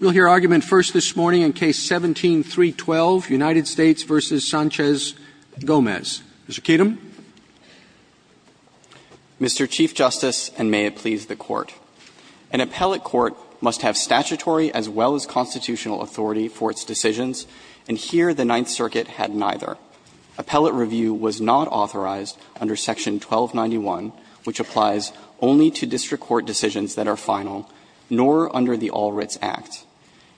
We'll hear argument first this morning in Case 17-312, United States v. Sanchez-Gomez. Mr. Kedem. Mr. Chief Justice, and may it please the Court. An appellate court must have statutory as well as constitutional authority for its decisions, and here the Ninth Circuit had neither. Appellate review was not authorized under Section 1291, which applies only to district court decisions that are final, nor under the All-Writs Act.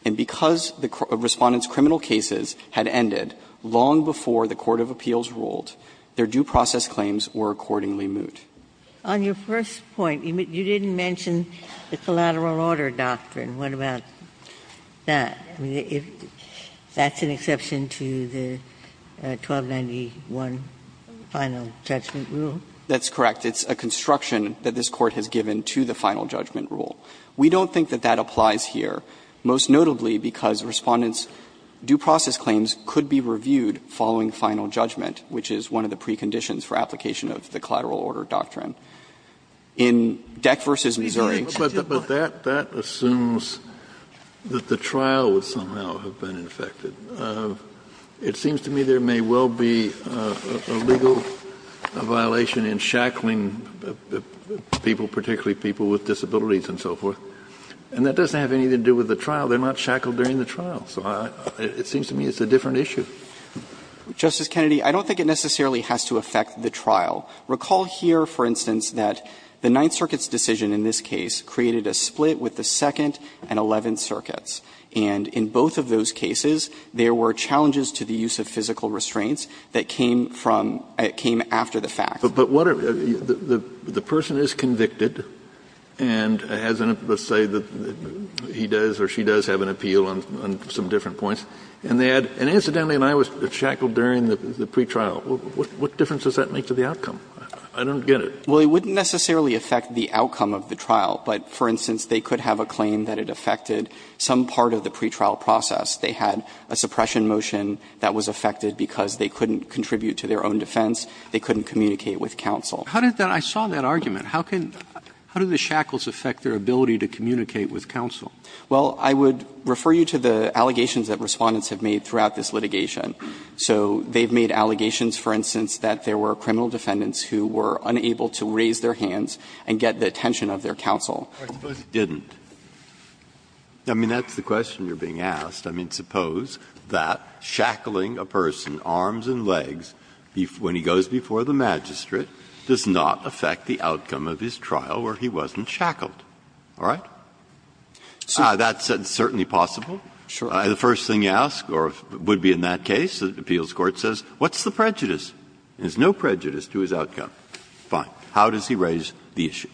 And because the Respondent's criminal cases had ended long before the court of appeals ruled, their due process claims were accordingly moot. On your first point, you didn't mention the collateral order doctrine. What about that? I mean, that's an exception to the 1291 final judgment rule. That's correct. It's a construction that this Court has given to the final judgment rule. We don't think that that applies here, most notably because Respondent's due process claims could be reviewed following final judgment, which is one of the preconditions for application of the collateral order doctrine. In Deck v. Missouri, in 1291 the Court of Appeals ruled that due process claims were not applicable to the final judgment rule. Kennedy, I don't think it necessarily has to affect the trial. Recall here, for instance, that the Ninth Circuit's decision in this case created a split with the Second and Eleventh Circuits. And in both of those cases, there were challenges to the use of physical restraints that came from or came after the fact. But what are the person is convicted, and let's say he does or she does have an appeal on some different points, and they had, and incidentally, and I was shackled during the pretrial, what difference does that make to the outcome? I don't get it. Well, it wouldn't necessarily affect the outcome of the trial, but, for instance, they could have a claim that it affected some part of the pretrial process. They had a suppression motion that was affected because they couldn't contribute to their own defense, they couldn't communicate with counsel. How did that – I saw that argument. How can – how do the shackles affect their ability to communicate with counsel? Well, I would refer you to the allegations that Respondents have made throughout this litigation. So they've made allegations, for instance, that there were criminal defendants who were unable to raise their hands and get the attention of their counsel. I suppose it didn't. I mean, that's the question you're being asked. I mean, suppose that shackling a person, arms and legs, when he goes before the magistrate, does not affect the outcome of his trial where he wasn't shackled. All right? That's certainly possible. The first thing you ask, or would be in that case, the appeals court says, what's the prejudice? There's no prejudice to his outcome. Fine. How does he raise the issue?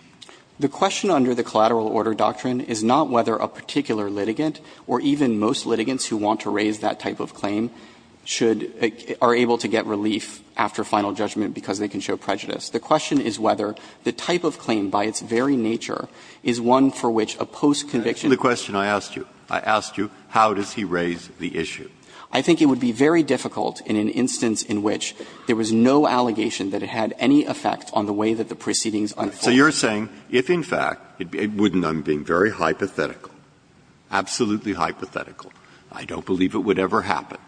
The question under the collateral order doctrine is not whether a particular litigant or even most litigants who want to raise that type of claim should – are able to get relief after final judgment because they can show prejudice. The question is whether the type of claim by its very nature is one for which a post-conviction The question I asked you, I asked you, how does he raise the issue? I think it would be very difficult in an instance in which there was no allegation that it had any effect on the way that the proceedings unfold. So you're saying if, in fact, it wouldn't, I'm being very hypothetical, absolutely hypothetical, I don't believe it would ever happen,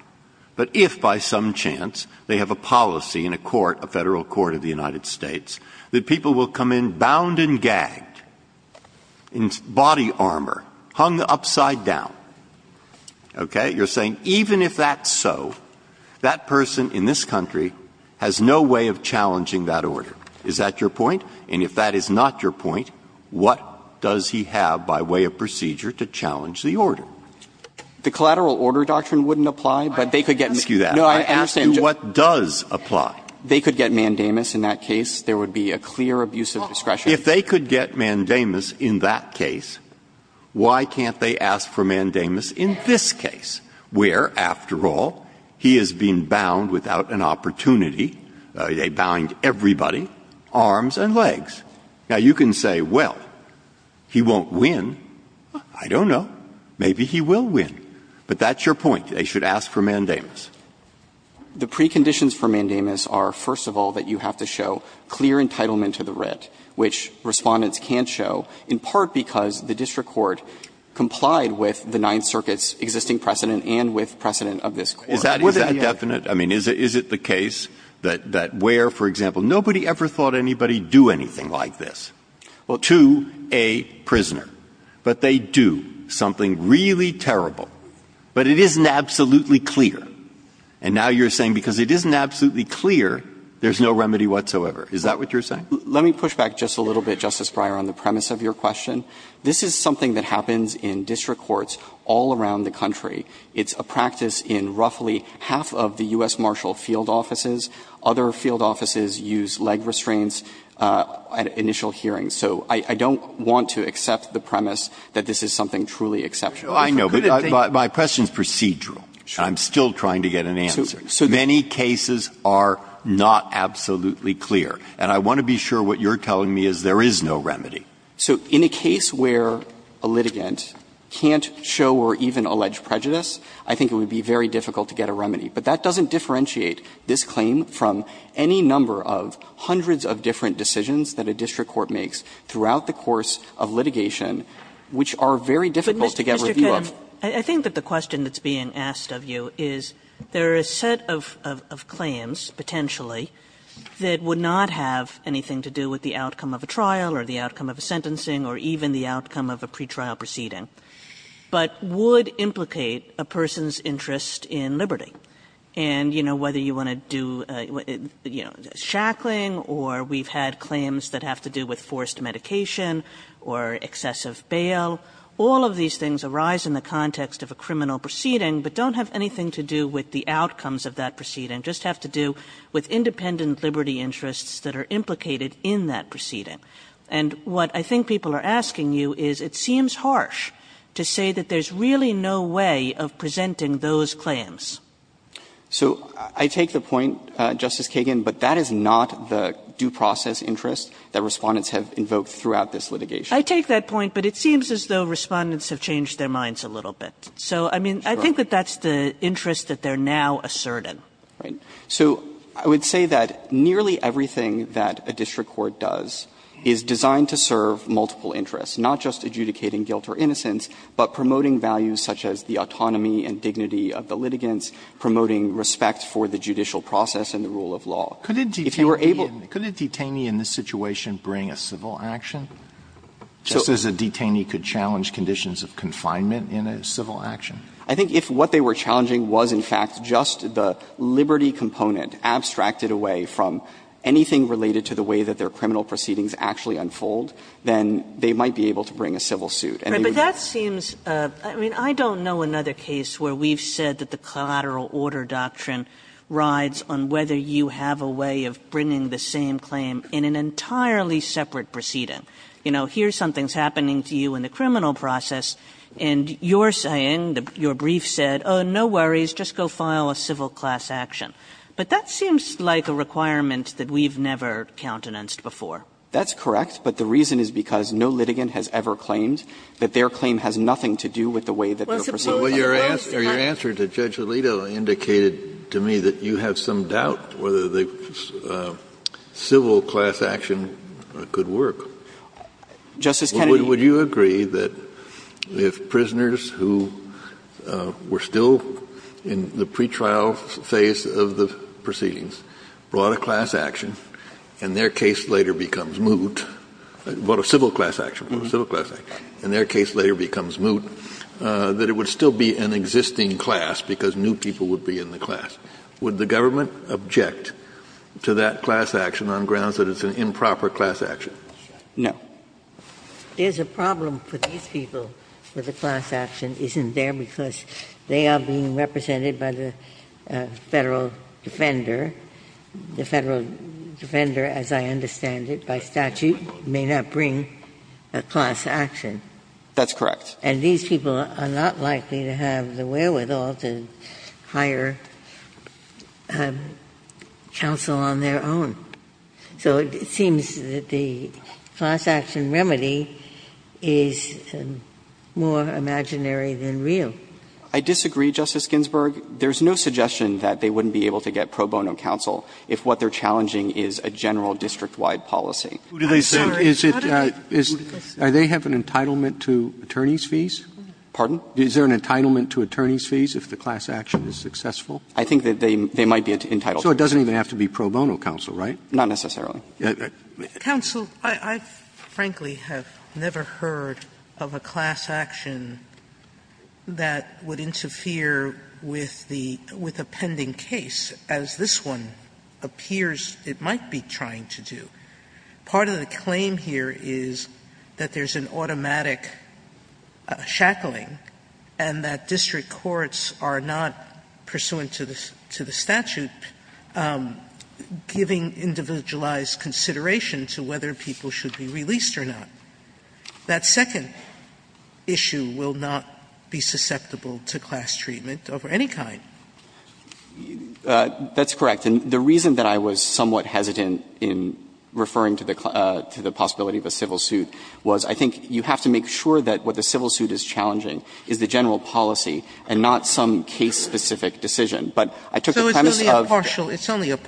but if by some chance they have a policy in a court, a Federal court of the United States, that people will come in bound and gagged, in body armor, hung upside down, okay, you're saying even if that's so, that person in this country has no way of challenging that order. Is that your point? And if that is not your point, what does he have by way of procedure to challenge the order? The collateral order doctrine wouldn't apply, but they could get. I didn't ask you that. No, I understand. I asked you what does apply. They could get mandamus in that case. There would be a clear abuse of discretion. If they could get mandamus in that case, why can't they ask for mandamus in this case, where, after all, he has been bound without an opportunity, they bound everybody, arms and legs. Now, you can say, well, he won't win. I don't know. Maybe he will win. But that's your point. They should ask for mandamus. The preconditions for mandamus are, first of all, that you have to show clear entitlement to the writ, which Respondents can't show, in part because the district court complied with the Ninth Circuit's existing precedent and with precedent of this court. Is that definite? I mean, is it the case that where, for example, nobody ever thought anybody would do anything like this to a prisoner, but they do something really terrible, but it isn't absolutely clear. And now you're saying because it isn't absolutely clear, there's no remedy whatsoever. Is that what you're saying? Let me push back just a little bit, Justice Breyer, on the premise of your question. This is something that happens in district courts all around the country. It's a practice in roughly half of the U.S. marshal field offices. Other field offices use leg restraints at initial hearings. So I don't want to accept the premise that this is something truly exceptional. Breyer, I know, but my question is procedural. I'm still trying to get an answer. Many cases are not absolutely clear. And I want to be sure what you're telling me is there is no remedy. So in a case where a litigant can't show or even allege prejudice, I think it would be very difficult to get a remedy. But that doesn't differentiate this claim from any number of hundreds of different decisions that a district court makes throughout the course of litigation, which are very difficult to get review of. Kagan. Kagan. I think that the question that's being asked of you is there are a set of claims, potentially, that would not have anything to do with the outcome of a trial or the outcome of a sentencing or even the outcome of a pretrial proceeding, but would implicate a person's interest in liberty. And, you know, whether you want to do, you know, shackling or we've had claims that have to do with forced medication or excessive bail, all of these things arise in the context of a criminal proceeding, but don't have anything to do with the outcomes of that proceeding, just have to do with independent liberty interests that are implicated in that proceeding. And what I think people are asking you is it seems harsh to say that there's really no way of presenting those claims. So I take the point, Justice Kagan, but that is not the due process interest that Respondents have invoked throughout this litigation. I take that point, but it seems as though Respondents have changed their minds a little bit. So, I mean, I think that that's the interest that they're now asserting. So I would say that nearly everything that a district court does is designed to serve multiple interests, not just adjudicating guilt or innocence, but promoting values such as the autonomy and dignity of the litigants, promoting respect for the judicial process and the rule of law. If you were able to Alito Could a detainee in this situation bring a civil action, just as a detainee could challenge conditions of confinement in a civil action? I think if what they were challenging was, in fact, just the liberty component abstracted away from anything related to the way that their criminal proceedings actually unfold, then they might be able to bring a civil suit. And they would be able to do that. Kagan Right, but that seems, I mean, I don't know another case where we've said that the collateral order doctrine rides on whether you have a way of bringing the same claim in an entirely separate proceeding. You know, here's something's happening to you in the criminal process, and you're saying, your brief said, oh, no worries, just go file a civil class action. But that seems like a requirement that we've never countenanced before. Gannon That's correct, but the reason is because no litigant has ever claimed that their claim has nothing to do with the way that their proceedings unfold. Kennedy Well, your answer to Judge Alito indicated to me that you have some doubt whether the civil class action could work. Justice Kennedy Would you agree that if prisoners who were still in the pretrial phase of the proceedings brought a class action and their case later becomes moot, brought a civil class action, brought a civil class action, and their case later becomes moot, that it would still be an existing class because new people would be in the class, would the government object to that class action on grounds that it's an improper class action? Gannon No. Ginsburg There's a problem for these people where the class action isn't there because they are being represented by the Federal Defender. The Federal Defender, as I understand it by statute, may not bring a class action. Gannon That's correct. Ginsburg And these people are not likely to have the wherewithal to hire counsel on their own. So it seems that the class action remedy is more imaginary than real. Gannon I disagree, Justice Ginsburg. There's no suggestion that they wouldn't be able to get pro bono counsel if what they're challenging is a general district-wide policy. Scalia I'm sorry, are they have an entitlement to attorney's fees? Gannon Pardon? Scalia Is there an entitlement to attorney's fees if the class action is successful? Gannon I think that they might be entitled to it. Scalia So it doesn't even have to be pro bono counsel, right? Gannon Not necessarily. Sotomayor Counsel, I frankly have never heard of a class action that would interfere with the pending case, as this one appears it might be trying to do. Part of the claim here is that there's an automatic shackling and that district courts are not pursuant to the statute giving individualized consideration to whether people should be released or not. That second issue will not be susceptible to class treatment of any kind. Gannon That's correct. And the reason that I was somewhat hesitant in referring to the possibility of a civil suit was I think you have to make sure that what the civil suit is challenging is the general policy and not some case-specific decision. But I took the premise of the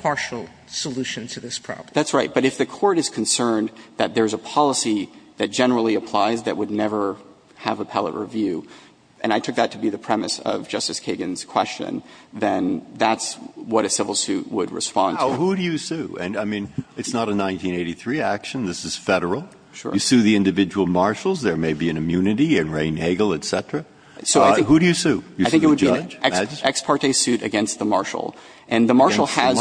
court is concerned that there's a policy that generally applies that would never have appellate review, and I took that to be the premise of Justice Kagan's question, then that's what a civil suit would respond to. Breyer Now, who do you sue? And, I mean, it's not a 1983 action. This is Federal. You sue the individual marshals. There may be an immunity in Raine, Hagel, et cetera. Who do you sue? You sue the judge? Gannon I think it would be an ex parte suit against the marshal. And the marshal has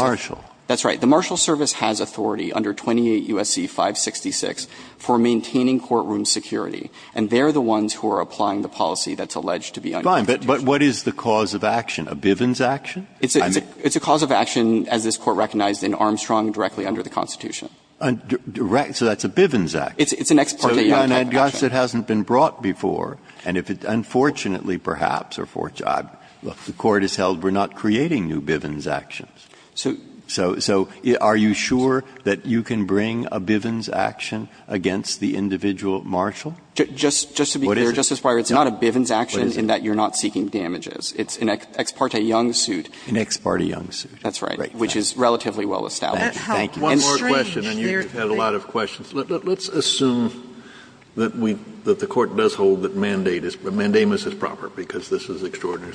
the marshal service has authority under 28 U.S.C. 566 for maintaining courtroom security, and they're the ones who are applying the policy that's alleged to be unconstitutional. Breyer But what is the cause of action, a Bivens action? Gannon It's a cause of action, as this Court recognized in Armstrong, directly under the Constitution. So that's a Bivens action. Gannon It's an ex parte action. Breyer So, then, I guess it hasn't been brought before, and if it's unfortunately perhaps, or fortunately, the Court has held we're not creating new Bivens actions. So are you sure that you can bring a Bivens action against the individual marshal? Gannon Just to be clear, Justice Breyer, it's not a Bivens action in that you're not seeking damages. It's an ex parte young suit. Breyer An ex parte young suit. Gannon That's right. Breyer Which is relatively well established. Breyer Thank you. And strange, they're great. Kennedy One more question, and you've had a lot of questions. Let's assume that we the Court does hold that mandate is, mandamus is proper, because this is extraordinary.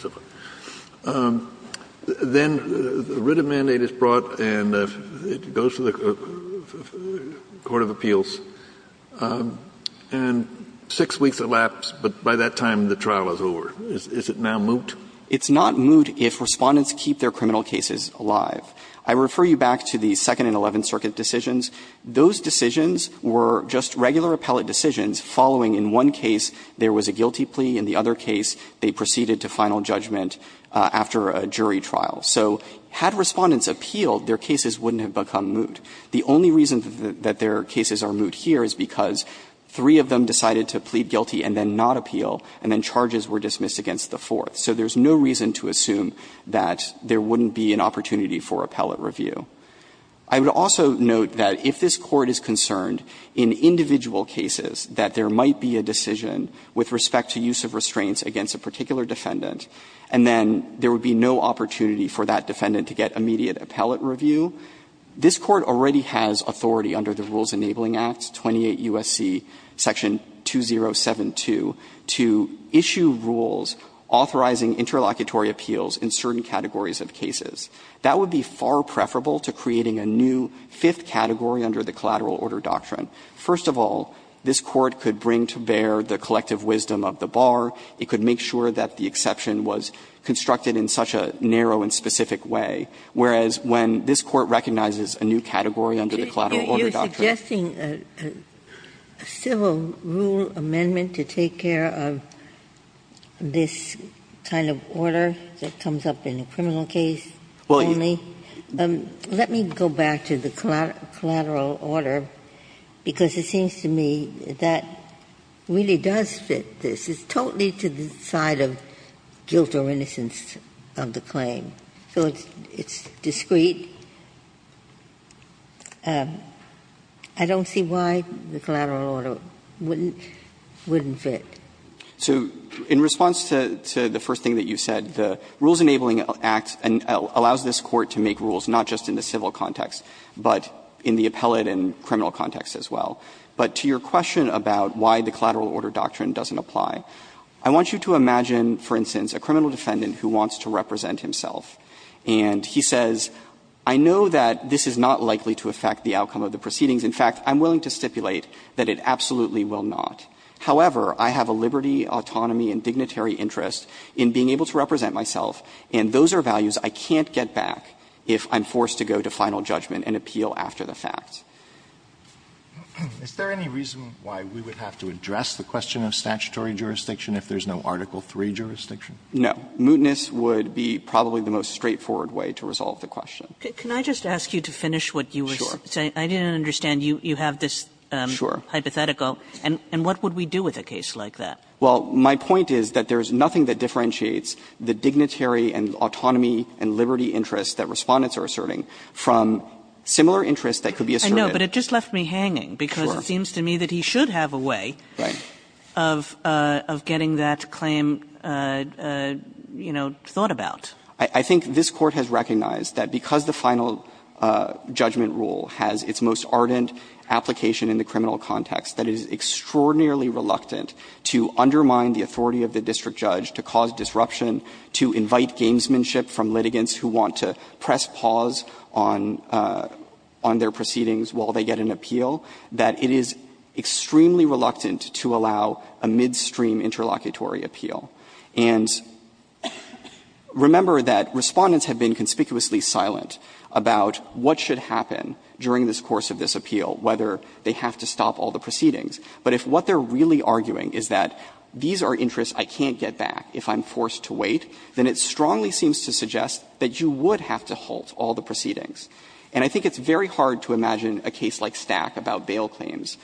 Then, a writ of mandate is brought, and it goes to the court of appeals, and six weeks elapsed, but by that time the trial is over. Is it now moot? Gannon It's not moot if Respondents keep their criminal cases alive. I refer you back to the Second and Eleventh Circuit decisions. Those decisions were just regular appellate decisions following, in one case, there was a guilty plea. In the other case, they proceeded to final judgment after a jury trial. So had Respondents appealed, their cases wouldn't have become moot. The only reason that their cases are moot here is because three of them decided to plead guilty and then not appeal, and then charges were dismissed against the fourth. So there's no reason to assume that there wouldn't be an opportunity for appellate review. I would also note that if this Court is concerned in individual cases that there might be a decision with respect to use of restraints against a particular defendant, and then there would be no opportunity for that defendant to get immediate appellate review, this Court already has authority under the Rules Enabling Act, 28 U.S.C. Section 2072, to issue rules authorizing interlocutory appeals in certain categories of cases. That would be far preferable to creating a new fifth category under the collateral order doctrine. First of all, this Court could bring to bear the collective wisdom of the bar. It could make sure that the exception was constructed in such a narrow and specific way. Whereas, when this Court recognizes a new category under the collateral order doctrine Kagan, you are suggesting a civil rule amendment to take care of this kind of order that comes up in a criminal case only? Let me go back to the collateral order, because it seems to me that really does fit this. It's totally to the side of guilt or innocence of the claim. So it's discreet. I don't see why the collateral order wouldn't fit. So in response to the first thing that you said, the Rules Enabling Act allows this Court to make rules, not just in the civil context, but in the appellate and criminal context as well. But to your question about why the collateral order doctrine doesn't apply, I want you to imagine, for instance, a criminal defendant who wants to represent himself. And he says, I know that this is not likely to affect the outcome of the proceedings. In fact, I'm willing to stipulate that it absolutely will not. However, I have a liberty, autonomy and dignitary interest in being able to represent myself, and those are values I can't get back if I'm forced to go to final judgment and appeal after the fact. Alitoson Is there any reason why we would have to address the question of statutory jurisdiction if there's no Article III jurisdiction? No. Mootness would be probably the most straightforward way to resolve the question. Kagan Can I just ask you to finish what you were saying? I didn't understand. You have this hypothetical. And what would we do with a case like that? Well, my point is that there's nothing that differentiates the dignitary and autonomy and liberty interests that Respondents are asserting from similar interests that could be asserted. Kagan I know, but it just left me hanging, because it seems to me that he should have a way of getting that claim, you know, thought about. I think this Court has recognized that because the final judgment rule has its most ardent application in the criminal context, that it is extraordinarily reluctant to undermine the authority of the district judge to cause disruption, to invite gamesmanship from litigants who want to press pause on their proceedings while they get an appeal, that it is extremely reluctant to allow a midstream interlocutory appeal. And remember that Respondents have been conspicuously silent about what should happen during this course of this appeal, whether they have to stop all the proceedings. But if what they're really arguing is that these are interests I can't get back if I'm forced to wait, then it strongly seems to suggest that you would have to halt all the proceedings. And I think it's very hard to imagine a case like Stack about bail claims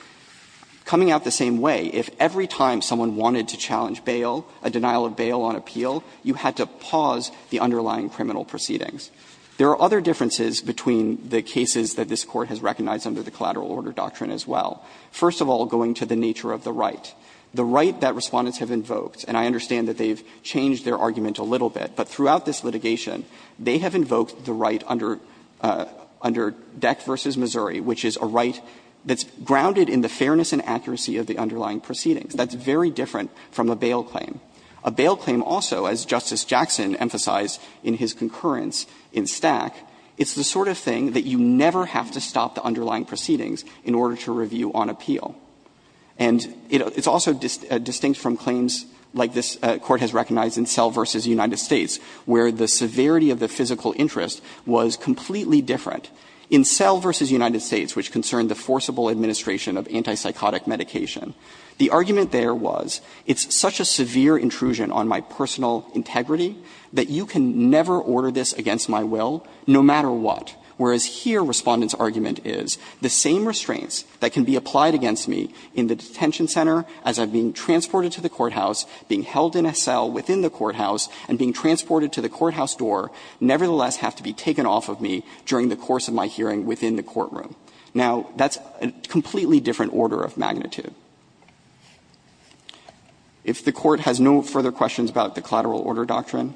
coming out the same way if every time someone wanted to challenge bail, a denial of bail on appeal, you had to pause the underlying criminal proceedings. There are other differences between the cases that this Court has recognized under the collateral order doctrine as well. First of all, going to the nature of the right, the right that Respondents have invoked, and I understand that they've changed their argument a little bit, but throughout this litigation, they have invoked the right under Deck v. Missouri, which is a right that's grounded in the fairness and accuracy of the underlying proceedings. That's very different from a bail claim. A bail claim also, as Justice Jackson emphasized in his concurrence in Stack, it's the sort of thing that you never have to stop the underlying proceedings in order to review on appeal. And it's also distinct from claims like this Court has recognized in Sell v. United States, where the severity of the physical interest was completely different. In Sell v. United States, which concerned the forcible administration of antipsychotic medication, the argument there was it's such a severe intrusion on my personal integrity that you can never order this against my will, no matter what. Whereas here Respondent's argument is the same restraints that can be applied against me in the detention center as I'm being transported to the courthouse, being held in a cell within the courthouse, and being transported to the courthouse door nevertheless have to be taken off of me during the course of my hearing within the courtroom. Now, that's a completely different order of magnitude. If the Court has no further questions about the collateral order doctrine,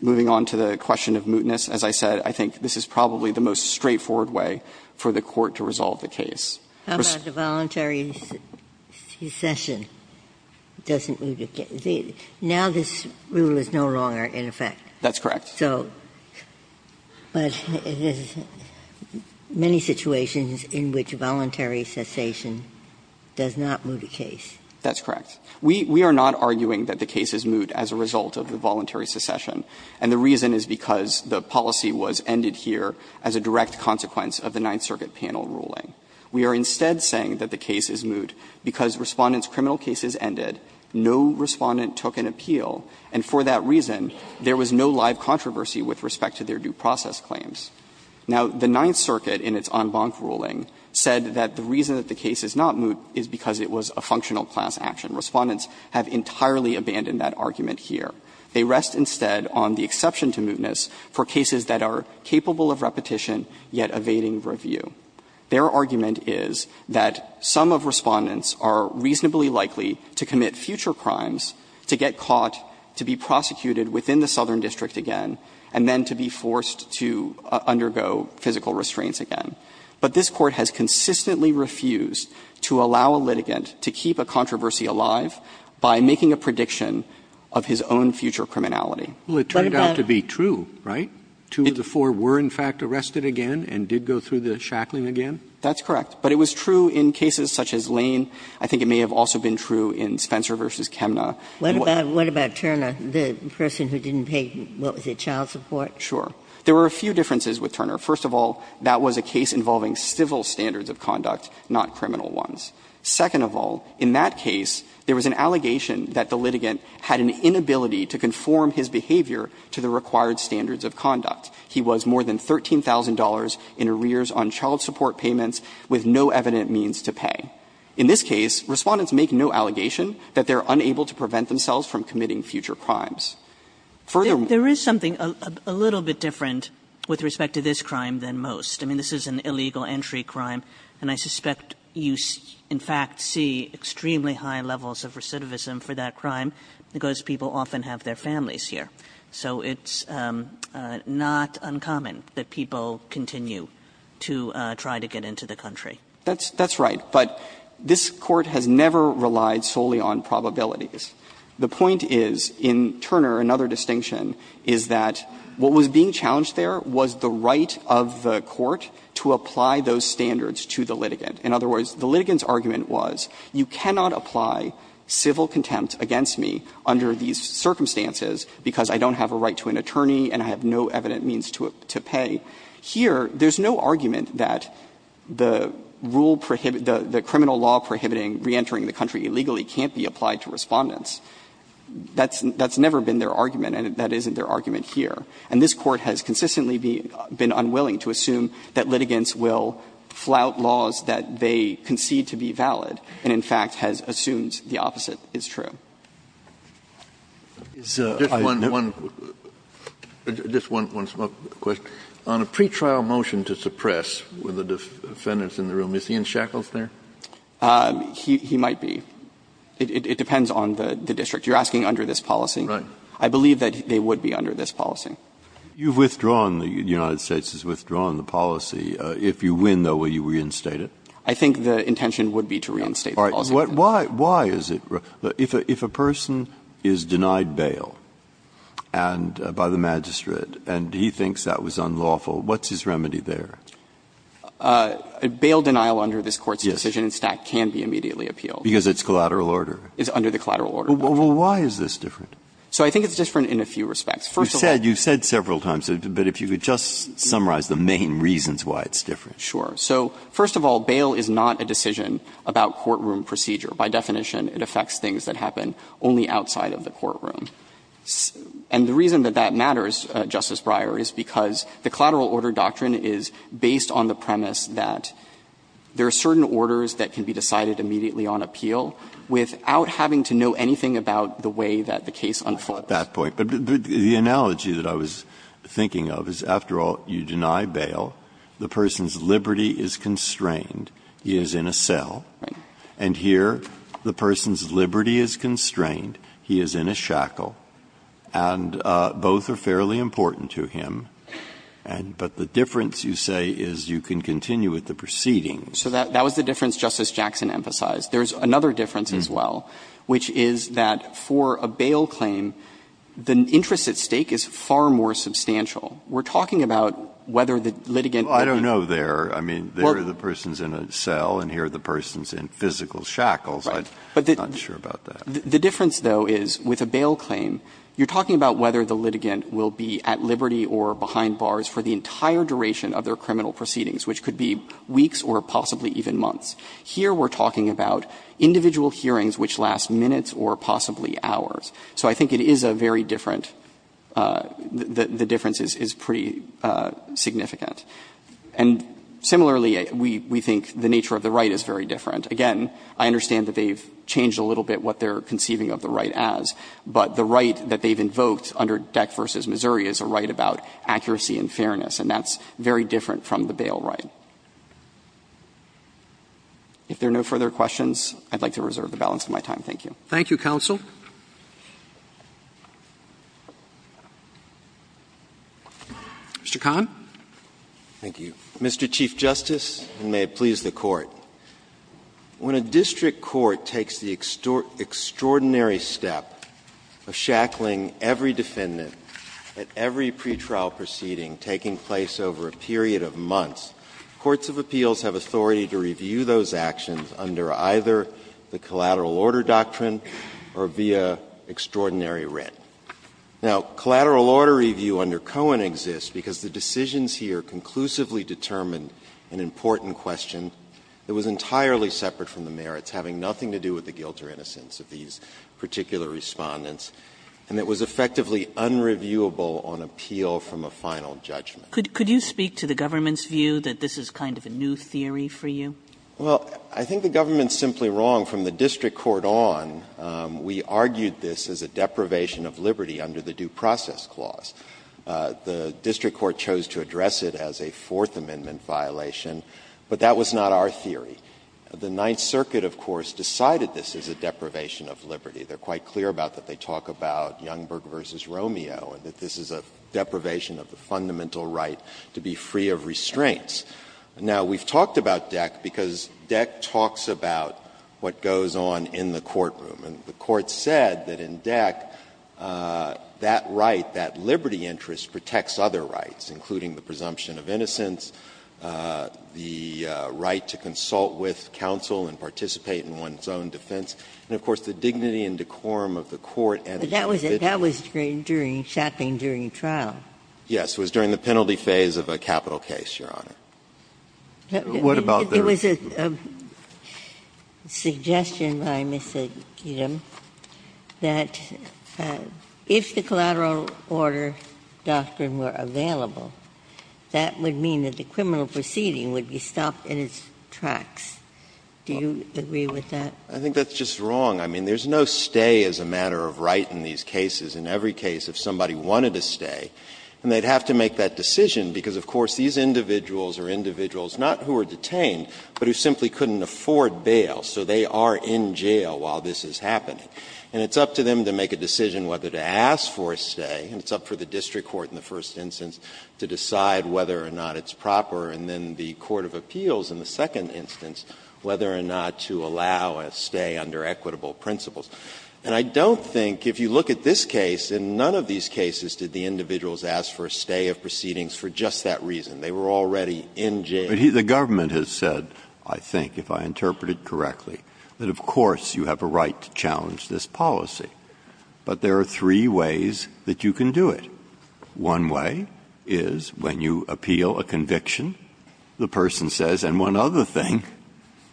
moving on to the question of mootness, as I said, I think this is probably the most straightforward way for the Court to resolve the case. Ginsburg. How about the voluntary secession doesn't moot a case? Now this rule is no longer in effect. That's correct. So, but there's many situations in which voluntary secession does not moot a case. That's correct. We are not arguing that the case is moot as a result of the voluntary secession, and the reason is because the policy was ended here as a direct consequence of the Ninth Circuit panel ruling. We are instead saying that the case is moot because Respondent's criminal case is ended, no Respondent took an appeal, and for that reason there was no live controversy with respect to their due process claims. Now, the Ninth Circuit in its en banc ruling said that the reason that the case is not moot is because it was a functional class action. Respondents have entirely abandoned that argument here. They rest instead on the exception to mootness for cases that are capable of repetition yet evading review. Their argument is that some of Respondents are reasonably likely to commit future crimes to get caught, to be prosecuted within the Southern District again, and then to be forced to undergo physical restraints again. But this Court has consistently refused to allow a litigant to keep a controversy alive by making a prediction of his own future criminality. Roberts. Well, it turned out to be true, right? Two of the four were, in fact, arrested again and did go through the shackling again? That's correct. But it was true in cases such as Lane. I think it may have also been true in Spencer v. Kemna. What about Turner, the person who didn't pay, what was it, child support? Sure. There were a few differences with Turner. First of all, that was a case involving civil standards of conduct, not criminal ones. Second of all, in that case, there was an allegation that the litigant had an inability to conform his behavior to the required standards of conduct. He was more than $13,000 in arrears on child support payments with no evident means to pay. In this case, Respondents make no allegation that they are unable to prevent themselves from committing future crimes. Furthermore ---- There is something a little bit different with respect to this crime than most. I mean, this is an illegal entry crime, and I suspect you, in fact, see extremely high levels of recidivism for that crime because people often have their families here. So it's not uncommon that people continue to try to get into the country. That's right. But this Court has never relied solely on probabilities. The point is, in Turner, another distinction is that what was being challenged there was the right of the Court to apply those standards to the litigant. In other words, the litigant's argument was, you cannot apply civil contempt against me under these circumstances because I don't have a right to an attorney and I have no evident means to pay. Here, there's no argument that the rule prohibit the criminal law prohibiting reentering the country illegally can't be applied to Respondents. That's never been their argument, and that isn't their argument here. And this Court has consistently been unwilling to assume that litigants will flout laws that they concede to be valid and, in fact, has assumed the opposite is true. Kennedy, on a pretrial motion to suppress, were the defendants in the room, is he in shackles there? He might be. It depends on the district. You're asking under this policy. Right. I believe that they would be under this policy. You've withdrawn, the United States has withdrawn the policy. If you win, though, will you reinstate it? I think the intention would be to reinstate the policy. All right. Why is it? If a person is denied bail and by the magistrate and he thinks that was unlawful, what's his remedy there? Bail denial under this Court's decision in Stack can be immediately appealed. Because it's collateral order. It's under the collateral order. Well, why is this different? So I think it's different in a few respects. First of all, You've said several times, but if you could just summarize the main reasons why it's different. Sure. So first of all, bail is not a decision about courtroom procedure. By definition, it affects things that happen only outside of the courtroom. And the reason that that matters, Justice Breyer, is because the collateral order doctrine is based on the premise that there are certain orders that can be decided immediately on appeal without having to know anything about the way that the case unfolds. Breyer, I don't know if you agree with that point, but the analogy that I was thinking of is, after all, you deny bail, the person's liberty is constrained, he is in a cell. And here, the person's liberty is constrained, he is in a shackle, and both are fairly important to him. But the difference, you say, is you can continue with the proceedings. So that was the difference Justice Jackson emphasized. There's another difference as well, which is that for a bail claim, the interest at stake is far more substantial. We're talking about whether the litigant would be at liberty or behind bars for the entire duration of their criminal proceedings, which could be weeks or possibly even months. even months. We're talking about individual hearings which last minutes or possibly hours. So I think it is a very different – the difference is pretty significant. And similarly, we think the nature of the right is very different. Again, I understand that they've changed a little bit what they're conceiving of the right as, but the right that they've invoked under Deck v. Missouri is a right about accuracy and fairness, and that's very different from the bail right. So if there are no further questions, I'd like to reserve the balance of my time. Roberts. Thank you, counsel. Mr. Kahn. Thank you. Mr. Chief Justice, and may it please the Court. When a district court takes the extraordinary step of shackling every defendant at every pretrial proceeding taking place over a period of months, courts of appeals have authority to review those actions under either the collateral order doctrine or via extraordinary writ. Now, collateral order review under Cohen exists because the decisions here conclusively determined an important question that was entirely separate from the merits, having nothing to do with the guilt or innocence of these particular Respondents, and it was effectively unreviewable on appeal from a final judgment. Kagan Could you speak to the government's view that this is kind of a new theory for you? Well, I think the government is simply wrong. From the district court on, we argued this as a deprivation of liberty under the due process clause. The district court chose to address it as a Fourth Amendment violation, but that was not our theory. The Ninth Circuit, of course, decided this as a deprivation of liberty. They're quite clear about that. They talk about Youngberg v. Romeo and that this is a deprivation of the fundamental right to be free of restraints. Now, we've talked about DECK because DECK talks about what goes on in the courtroom. And the Court said that in DECK, that right, that liberty interest, protects other rights, including the presumption of innocence, the right to consult with counsel and participate in one's own defense, and, of course, the dignity and decorum of the court and the jurisdiction. But that was during Shaping during trial. Yes. It was during the penalty phase of a capital case, Your Honor. What about the rest? There was a suggestion by Ms. Kedem that if the collateral order doctrine were available, that would mean that the criminal proceeding would be stopped in its tracks. Do you agree with that? I think that's just wrong. I mean, there's no stay as a matter of right in these cases. In every case, if somebody wanted to stay, and they'd have to make that decision because, of course, these individuals are individuals not who are detained, but who simply couldn't afford bail. So they are in jail while this is happening. And it's up to them to make a decision whether to ask for a stay, and it's up for the district court in the first instance to decide whether or not it's proper. And then the court of appeals in the second instance, whether or not to allow a stay under equitable principles. And I don't think, if you look at this case, in none of these cases did the individuals ask for a stay of proceedings for just that reason. They were already in jail. But the government has said, I think, if I interpreted correctly, that of course you have a right to challenge this policy. But there are three ways that you can do it. One way is when you appeal a conviction, the person says, and one other thing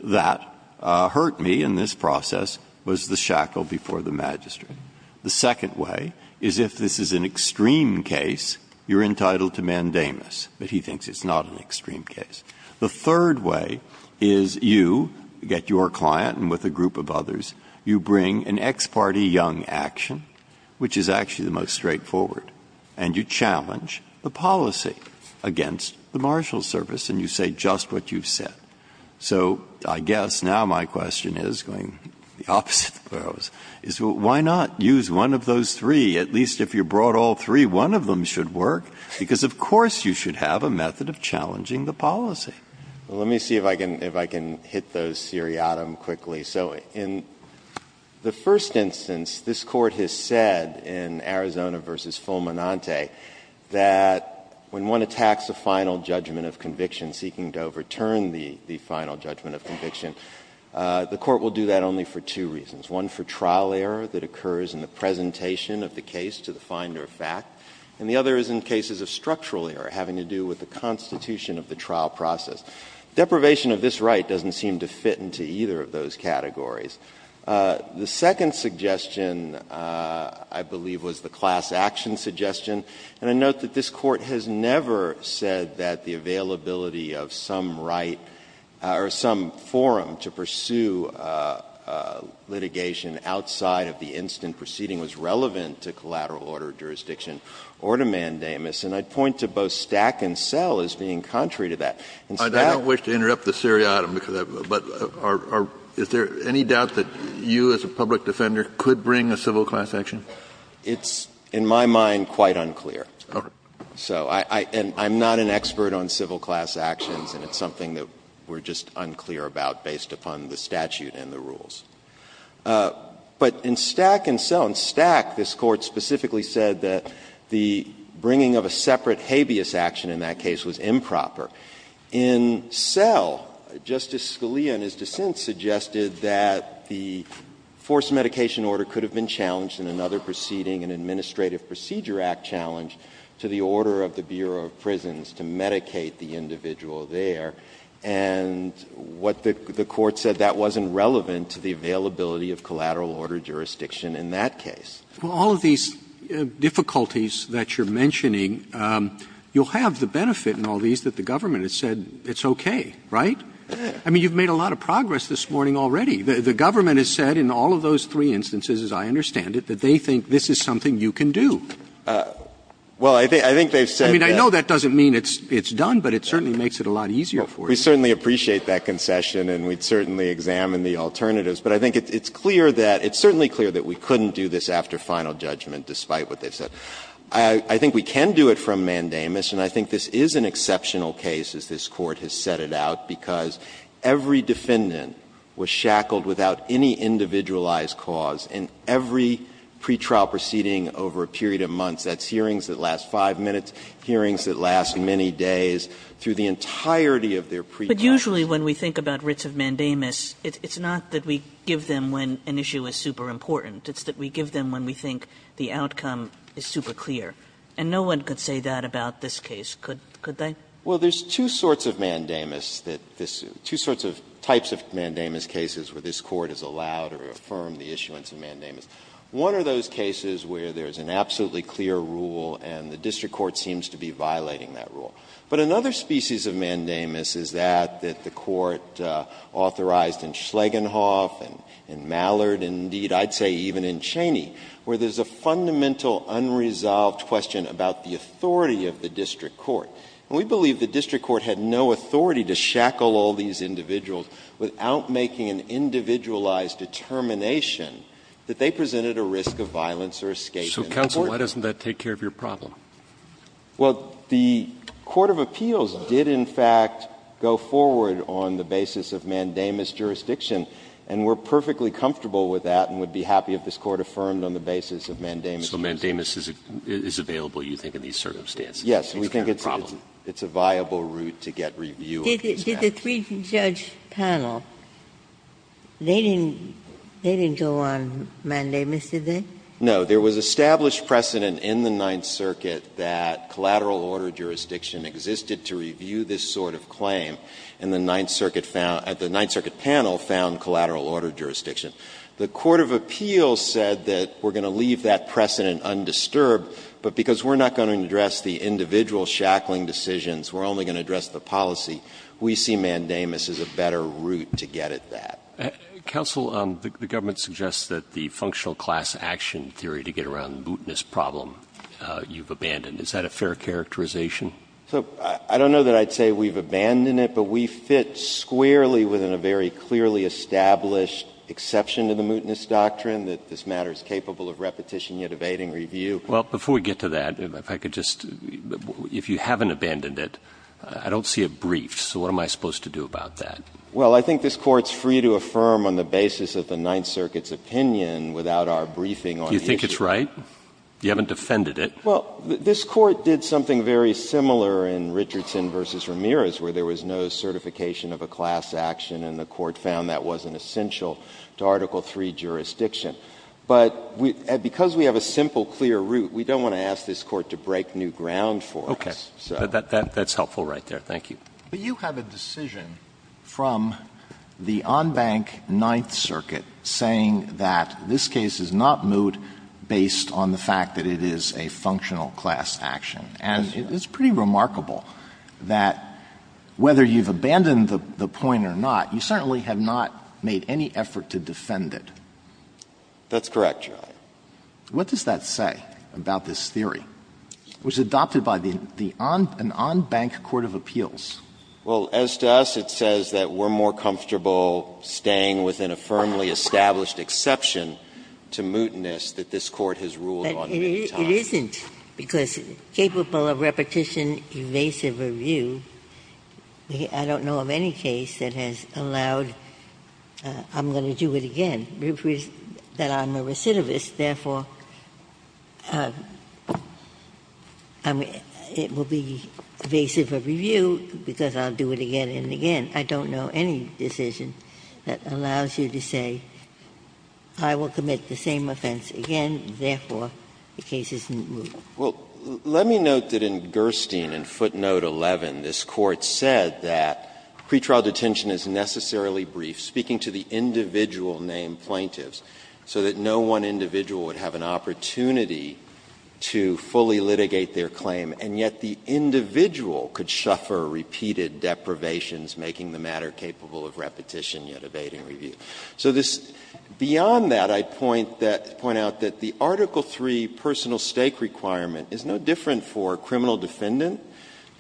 that hurt me in this process was the shackle before the magistrate. The second way is if this is an extreme case, you're entitled to mandamus, but he thinks it's not an extreme case. The third way is you get your client and with a group of others, you bring an ex parte young action, which is actually the most straightforward, and you challenge the policy against the marshal service and you say just what you've said. So I guess now my question is, going the opposite of where I was, is why not use one of those three? At least if you brought all three, one of them should work, because of course you should have a method of challenging the policy. Let me see if I can hit those seriatim quickly. So in the first instance, this Court has said in Arizona v. Fulminante that when one attacks a final judgment of conviction, seeking to overturn the final judgment of conviction, the Court will do that only for two reasons, one for trial error that occurs in the presentation of the case to the finder of fact, and the other is in cases of structural error having to do with the constitution of the trial process. Deprivation of this right doesn't seem to fit into either of those categories. The second suggestion, I believe, was the class action suggestion, and I note that this Court has never said that the availability of some right or some forum to pursue litigation outside of the instant proceeding was relevant to collateral order jurisdiction or to mandamus, and I'd point to both Stack and Sell as being contrary to that. In Stack and Sell, and Stack, this Court specifically said that the bringing of a statute in the rules of civil class is not an expert on civil class actions, and it's something that we're just unclear about based upon the statute and the rules, but in Stack and Sell, in Stack, this Court specifically said that the bringing of a statute in a separate habeas action in that case was improper. In Sell, Justice Scalia, in his dissent, suggested that the forced medication order could have been challenged in another proceeding, an Administrative Procedure Act challenge, to the order of the Bureau of Prisons to medicate the individual there, and what the Court said, that wasn't relevant to the availability of collateral order jurisdiction in that case. Roberts Well, all of these difficulties that you're mentioning, you'll have the benefit in all these that the government has said it's okay, right? I mean, you've made a lot of progress this morning already. The government has said in all of those three instances, as I understand it, that they think this is something you can do. I mean, I know that doesn't mean it's done, but it certainly makes it a lot easier for you. We certainly appreciate that concession, and we'd certainly examine the alternatives, but I think it's clear that, it's certainly clear that we couldn't do this after final judgment, despite what they've said. I think we can do it from mandamus, and I think this is an exceptional case, as this Court has set it out, because every defendant was shackled without any individualized cause in every pretrial proceeding over a period of months. That's hearings that last 5 minutes, hearings that last many days, through the entirety of their pretrial. Sotomayor, usually when we think about writs of mandamus, it's not that we give them when an issue is super important. It's that we give them when we think the outcome is super clear, and no one could say that about this case, could they? Well, there's two sorts of mandamus that this – two sorts of types of mandamus cases where this Court has allowed or affirmed the issuance of mandamus. One of those cases where there's an absolutely clear rule and the district court seems to be violating that rule. But another species of mandamus is that that the Court authorized in Schlegenhoff and Mallard, and indeed, I'd say even in Cheney, where there's a fundamental unresolved question about the authority of the district court. And we believe the district court had no authority to shackle all these individuals without making an individualized determination that they presented a risk of violence or escape in court. So, counsel, why doesn't that take care of your problem? Well, the court of appeals did, in fact, go forward on the basis of mandamus jurisdiction, and we're perfectly comfortable with that and would be happy if this Court affirmed on the basis of mandamus. So mandamus is available, you think, in these circumstances? Yes. We think it's a viable route to get review of these matters. Did the three-judge panel, they didn't go on mandamus, did they? No. There was established precedent in the Ninth Circuit that collateral order jurisdiction existed to review this sort of claim, and the Ninth Circuit found at the Ninth Circuit panel found collateral order jurisdiction. The court of appeals said that we're going to leave that precedent undisturbed, but because we're not going to address the individual shackling decisions, we're only going to address the policy. We see mandamus as a better route to get at that. Counsel, the government suggests that the functional class action theory to get around the mootness problem you've abandoned. Is that a fair characterization? So I don't know that I'd say we've abandoned it, but we fit squarely within a very clearly established exception to the mootness doctrine, that this matter is capable of repetition, yet evading review. Well, before we get to that, if I could just – if you haven't abandoned it, I don't see a brief, so what am I supposed to do about that? Well, I think this Court's free to affirm on the basis of the Ninth Circuit's opinion without our briefing on the issue. Do you think it's right? You haven't defended it. Well, this Court did something very similar in Richardson v. Ramirez, where there was no certification of a class action, and the Court found that wasn't essential to Article III jurisdiction. But because we have a simple, clear route, we don't want to ask this Court to break new ground for us. Okay. That's helpful right there. Thank you. But you have a decision from the en banc Ninth Circuit saying that this case is not moot based on the fact that it is a functional class action. And it's pretty remarkable that whether you've abandoned the point or not, you certainly have not made any effort to defend it. That's correct, Your Honor. What does that say about this theory? It was adopted by the en banc court of appeals. Well, as to us, it says that we're more comfortable staying within a firmly established exception to mootness that this Court has ruled on many times. But it isn't, because capable of repetition, evasive review, I don't know of any case that has allowed, I'm going to do it again, that I'm a recidivist, therefore, I mean, it will be evasive of review because I'll do it again and again. I don't know any decision that allows you to say, I will commit the same offense again, therefore, the case is moot. Well, let me note that in Gerstein, in footnote 11, this Court said that pretrial detention is necessarily brief, speaking to the individual named plaintiffs, so that no one individual would have an opportunity to fully litigate their claim, and yet the individual could suffer repeated deprivations, making the matter capable of repetition, yet evading review. So this, beyond that, I'd point out that the Article III personal stake requirement is no different for a criminal defendant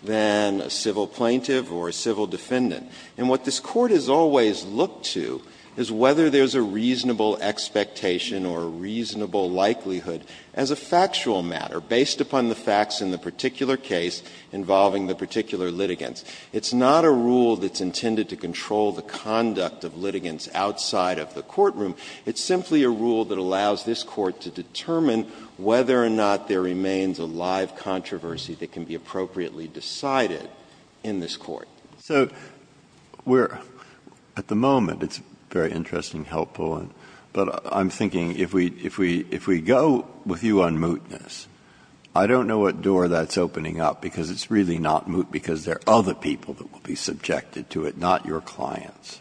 than a civil plaintiff or a civil defendant. And what this Court has always looked to is whether there's a reasonable expectation or a reasonable likelihood as a factual matter, based upon the facts in the particular case involving the particular litigants. It's not a rule that's intended to control the conduct of litigants outside of the courtroom. It's simply a rule that allows this Court to determine whether or not there remains a live controversy that can be appropriately decided in this Court. So we're at the moment, it's very interesting, helpful, but I'm thinking if we go with you on mootness, I don't know what door that's opening up, because it's really not moot because there are other people that will be subjected to it, not your clients.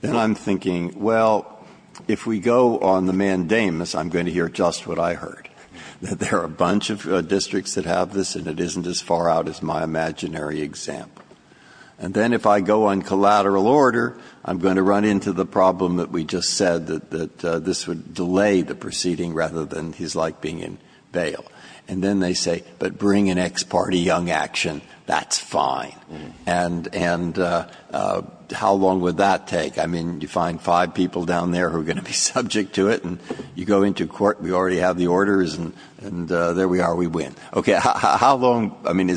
Then I'm thinking, well, if we go on the mandamus, I'm going to hear just what I heard, that there are a bunch of districts that have this and it isn't as far out as my imaginary example. And then if I go on collateral order, I'm going to run into the problem that we just said, that this would delay the proceeding rather than his like being in bail. And then they say, but bring an ex parte young action, that's fine. And how long would that take? I mean, you find five people down there who are going to be subject to it, and you already have the orders, and there we are, we win. Okay. How long, I mean,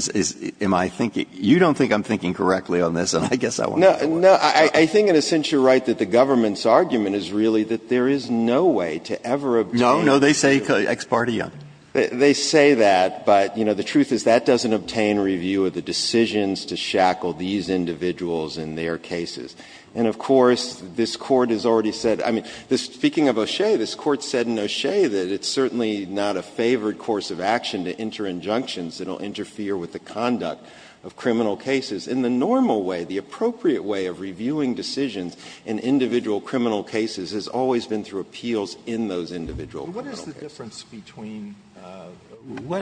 am I thinking, you don't think I'm thinking correctly on this, and I guess I want to know. No, I think in a sense you're right that the government's argument is really that there is no way to ever obtain. No, no, they say ex parte young. They say that, but, you know, the truth is that doesn't obtain review of the decisions to shackle these individuals in their cases. And, of course, this Court has already said, I mean, speaking of O'Shea, this Court said in O'Shea that it's certainly not a favored course of action to enter injunctions that will interfere with the conduct of criminal cases. In the normal way, the appropriate way of reviewing decisions in individual criminal cases has always been through appeals in those individual criminal cases. Alito,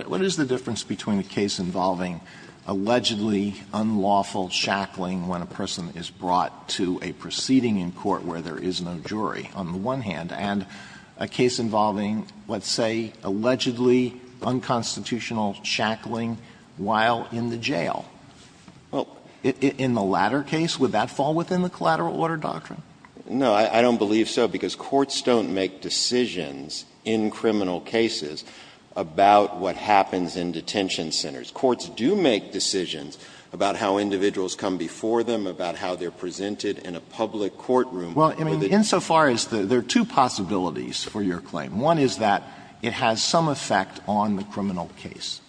what is the difference between the case involving allegedly unlawful shackling when a person is brought to a proceeding in court where there is no jury on the one hand, and a case involving, let's say, allegedly unconstitutional shackling while in the jail? In the latter case, would that fall within the collateral order doctrine? No, I don't believe so, because courts don't make decisions in criminal cases about what happens in detention centers. Courts do make decisions about how individuals come before them, about how they are presented in a public courtroom. Well, I mean, insofar as there are two possibilities for your claim. One is that it has some effect on the criminal case.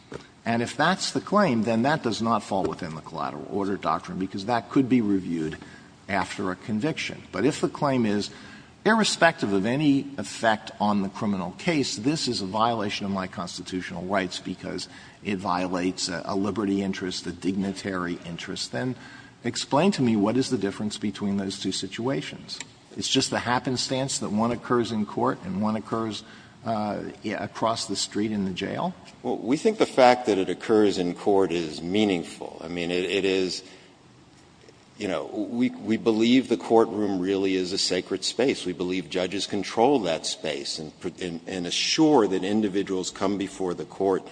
And if that's the claim, then that does not fall within the collateral order doctrine, because that could be reviewed after a conviction. But if the claim is, irrespective of any effect on the criminal case, this is a violation of my constitutional rights because it violates a liberty interest, a dignitary interest, then explain to me what is the difference between those two situations. It's just the happenstance that one occurs in court and one occurs across the street in the jail? Well, we think the fact that it occurs in court is meaningful. I mean, it is, you know, we believe the courtroom really is a sacred space. We believe judges control that space and assure that individuals come before the court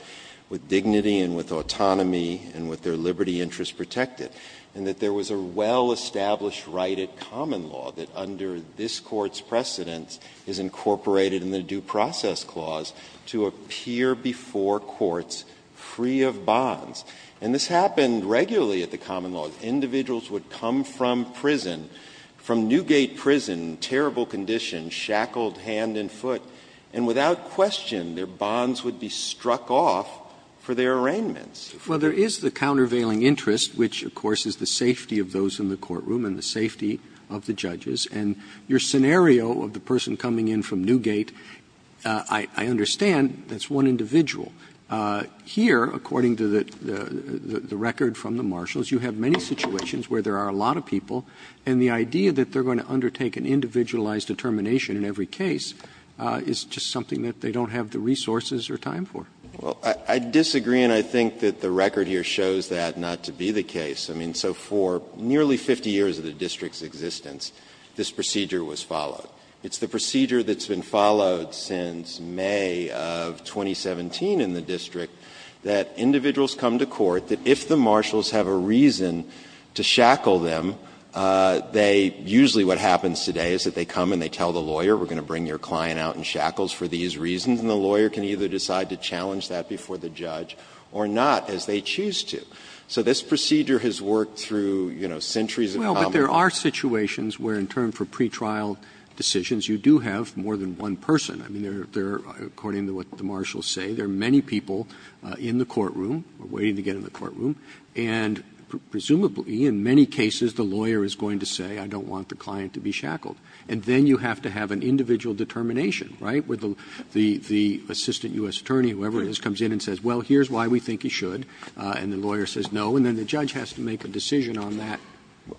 with dignity and with autonomy and with their liberty interests protected, and that there was a well-established right at common law that, under this Court's precedence, is incorporated in the due process clause to appear before courts free of bonds. And this happened regularly at the common law. Individuals would come from prison, from Newgate Prison, terrible condition, shackled hand and foot, and without question, their bonds would be struck off for their arraignments. Well, there is the countervailing interest, which, of course, is the safety of those in the courtroom and the safety of the judges. And your scenario of the person coming in from Newgate, I understand that's one individual. Here, according to the record from the marshals, you have many situations where there are a lot of people, and the idea that they're going to undertake an individualized determination in every case is just something that they don't have the resources or time for. Well, I disagree, and I think that the record here shows that not to be the case. I mean, so for nearly 50 years of the district's existence, this procedure was followed. It's the procedure that's been followed since May of 2017 in the district, that individuals come to court, that if the marshals have a reason to shackle them, they usually what happens today is that they come and they tell the lawyer, we're going to bring your client out in shackles for these reasons, and the lawyer can either decide to challenge that before the judge or not, as they choose to. So this procedure has worked through, you know, centuries of common law. Roberts, but there are situations where in turn for pretrial decisions you do have more than one person. I mean, there are, according to what the marshals say, there are many people in the courtroom, waiting to get in the courtroom, and presumably in many cases the lawyer is going to say, I don't want the client to be shackled. And then you have to have an individual determination, right, where the assistant U.S. attorney, whoever it is, comes in and says, well, here's why we think he should, and the lawyer says no, and then the judge has to make a decision on that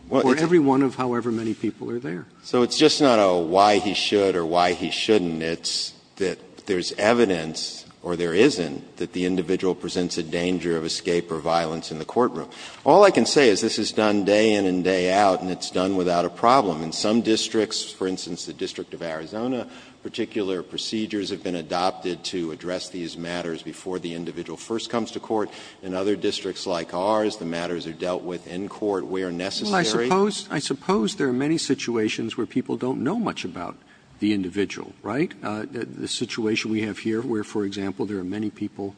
for every one of however many people are there. So it's just not a why he should or why he shouldn't, it's that there's evidence or there isn't that the individual presents a danger of escape or violence in the courtroom. All I can say is this is done day in and day out, and it's done without a problem. In some districts, for instance, the District of Arizona, particular procedures have been adopted to address these matters before the individual first comes to court. In other districts like ours, the matters are dealt with in court where necessary. Roberts I suppose there are many situations where people don't know much about the individual, right? The situation we have here where, for example, there are many people,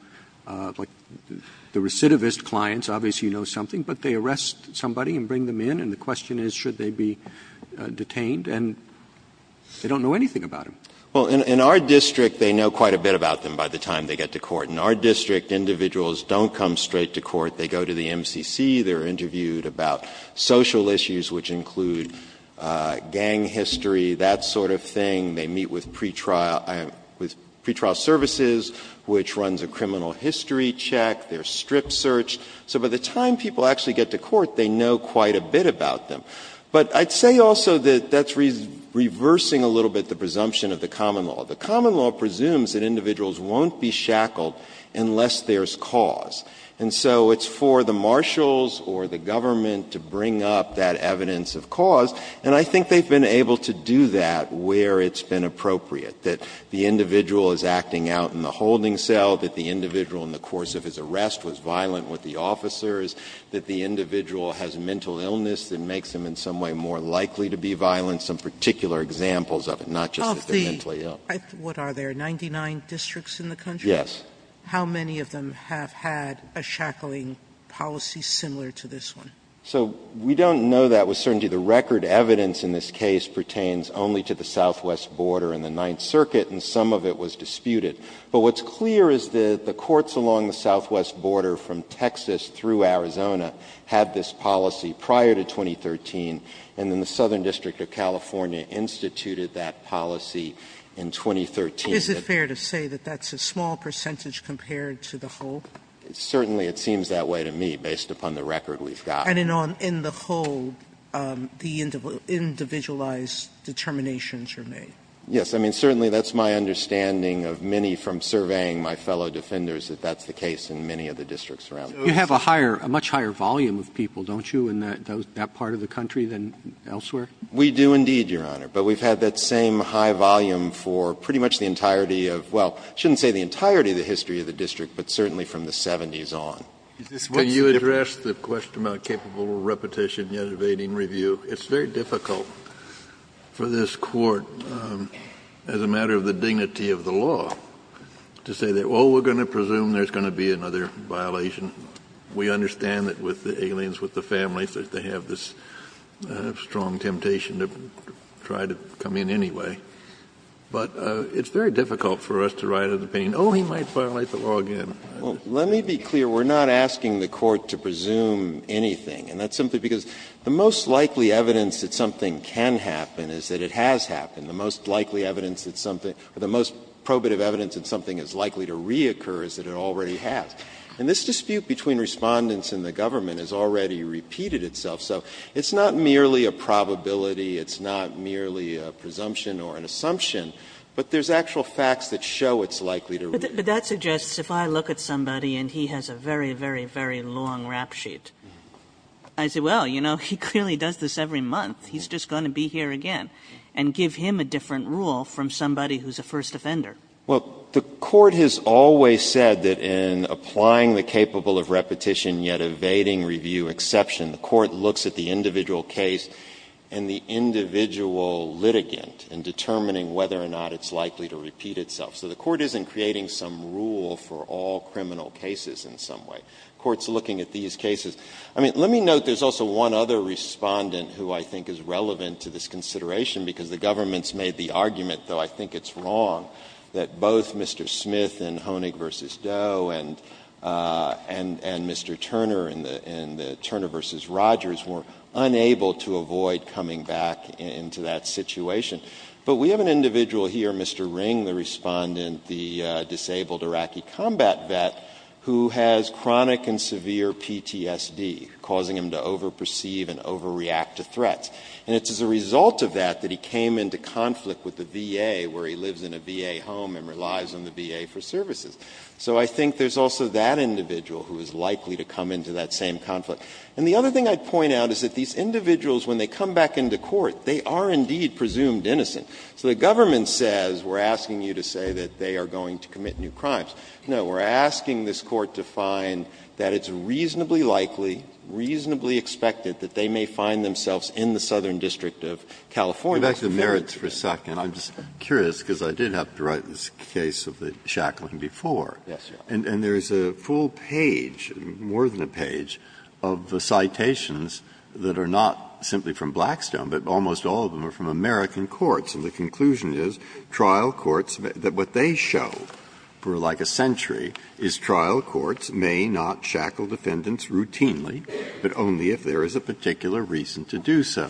like the recidivist clients, obviously you know something, but they arrest somebody and bring them in, and the question is should they be detained, and they don't know anything about them. Well, in our district, they know quite a bit about them by the time they get to court. In our district, individuals don't come straight to court. They go to the MCC. They're interviewed about social issues, which include gang history, that sort of thing. They meet with pretrial services, which runs a criminal history check. There's strip search. So by the time people actually get to court, they know quite a bit about them. But I'd say also that that's reversing a little bit the presumption of the common law. The common law presumes that individuals won't be shackled unless there's cause. And so it's for the marshals or the government to bring up that evidence of cause, and I think they've been able to do that where it's been appropriate, that the individual is acting out in the holding cell, that the individual in the course of his arrest was violent with the officers, that the individual has mental illness that makes him in some way more likely to be violent, some particular examples of it, not just that they're mentally ill. Sotomayor, what are there, 99 districts in the country? Yes. How many of them have had a shackling policy similar to this one? So we don't know that with certainty. The record evidence in this case pertains only to the southwest border and the Ninth Circuit, and some of it was disputed. But what's clear is that the courts along the southwest border from Texas through Arizona had this policy prior to 2013, and then the Southern District of California instituted that policy in 2013. Is it fair to say that that's a small percentage compared to the whole? Certainly it seems that way to me, based upon the record we've got. And in the whole, the individualized determinations are made? Yes. I mean, certainly that's my understanding of many from surveying my fellow defenders that that's the case in many of the districts around the country. You have a higher, a much higher volume of people, don't you, in that part of the country than elsewhere? We do indeed, Your Honor. But we've had that same high volume for pretty much the entirety of, well, I shouldn't say the entirety of the history of the district, but certainly from the 70s on. Can you address the question about capable repetition yet evading review? It's very difficult for this Court, as a matter of the dignity of the law, to say that, oh, we're going to presume there's going to be another violation. We understand that with the aliens, with the families, that they have this strong temptation to try to come in anyway. But it's very difficult for us to write an opinion, oh, he might violate the law again. Well, let me be clear, we're not asking the Court to presume anything. And that's simply because the most likely evidence that something can happen is that it has happened. The most likely evidence that something or the most probative evidence that something is likely to reoccur is that it already has. And this dispute between Respondents and the government has already repeated itself. So it's not merely a probability, it's not merely a presumption or an assumption, but there's actual facts that show it's likely to reoccur. Kagan. But that suggests, if I look at somebody and he has a very, very, very long rap sheet, I say, well, you know, he clearly does this every month, he's just going to be here again, and give him a different rule from somebody who's a first offender. Well, the Court has always said that in applying the capable of repetition yet evading review exception, the Court looks at the individual case and the individual litigant in determining whether or not it's likely to repeat itself. So the Court isn't creating some rule for all criminal cases in some way. The Court's looking at these cases. I mean, let me note there's also one other Respondent who I think is relevant to this consideration, because the government's made the argument, though I think it's wrong, that both Mr. Smith in Honig v. Doe and Mr. Turner in the Turner v. Rogers were unable to avoid coming back into that situation. And it's as a result of that that he came into conflict with the VA, where he lives in a VA home and relies on the VA for services. So I think there's also that individual who is likely to come into that same conflict. And the other thing I'd point out is that these individuals, when they come back into court, they are indeed presumed innocent. So the government says, we're asking you to say that this individual is presumed that they are going to commit new crimes. No, we're asking this Court to find that it's reasonably likely, reasonably expected that they may find themselves in the Southern District of California. Breyer, I'm just curious, because I did have to write this case of the Shackling before. And there's a full page, more than a page, of citations that are not simply from Blackstone, but almost all of them are from American courts. And the conclusion is, trial courts, that what they show for like a century is trial courts may not shackle defendants routinely, but only if there is a particular reason to do so.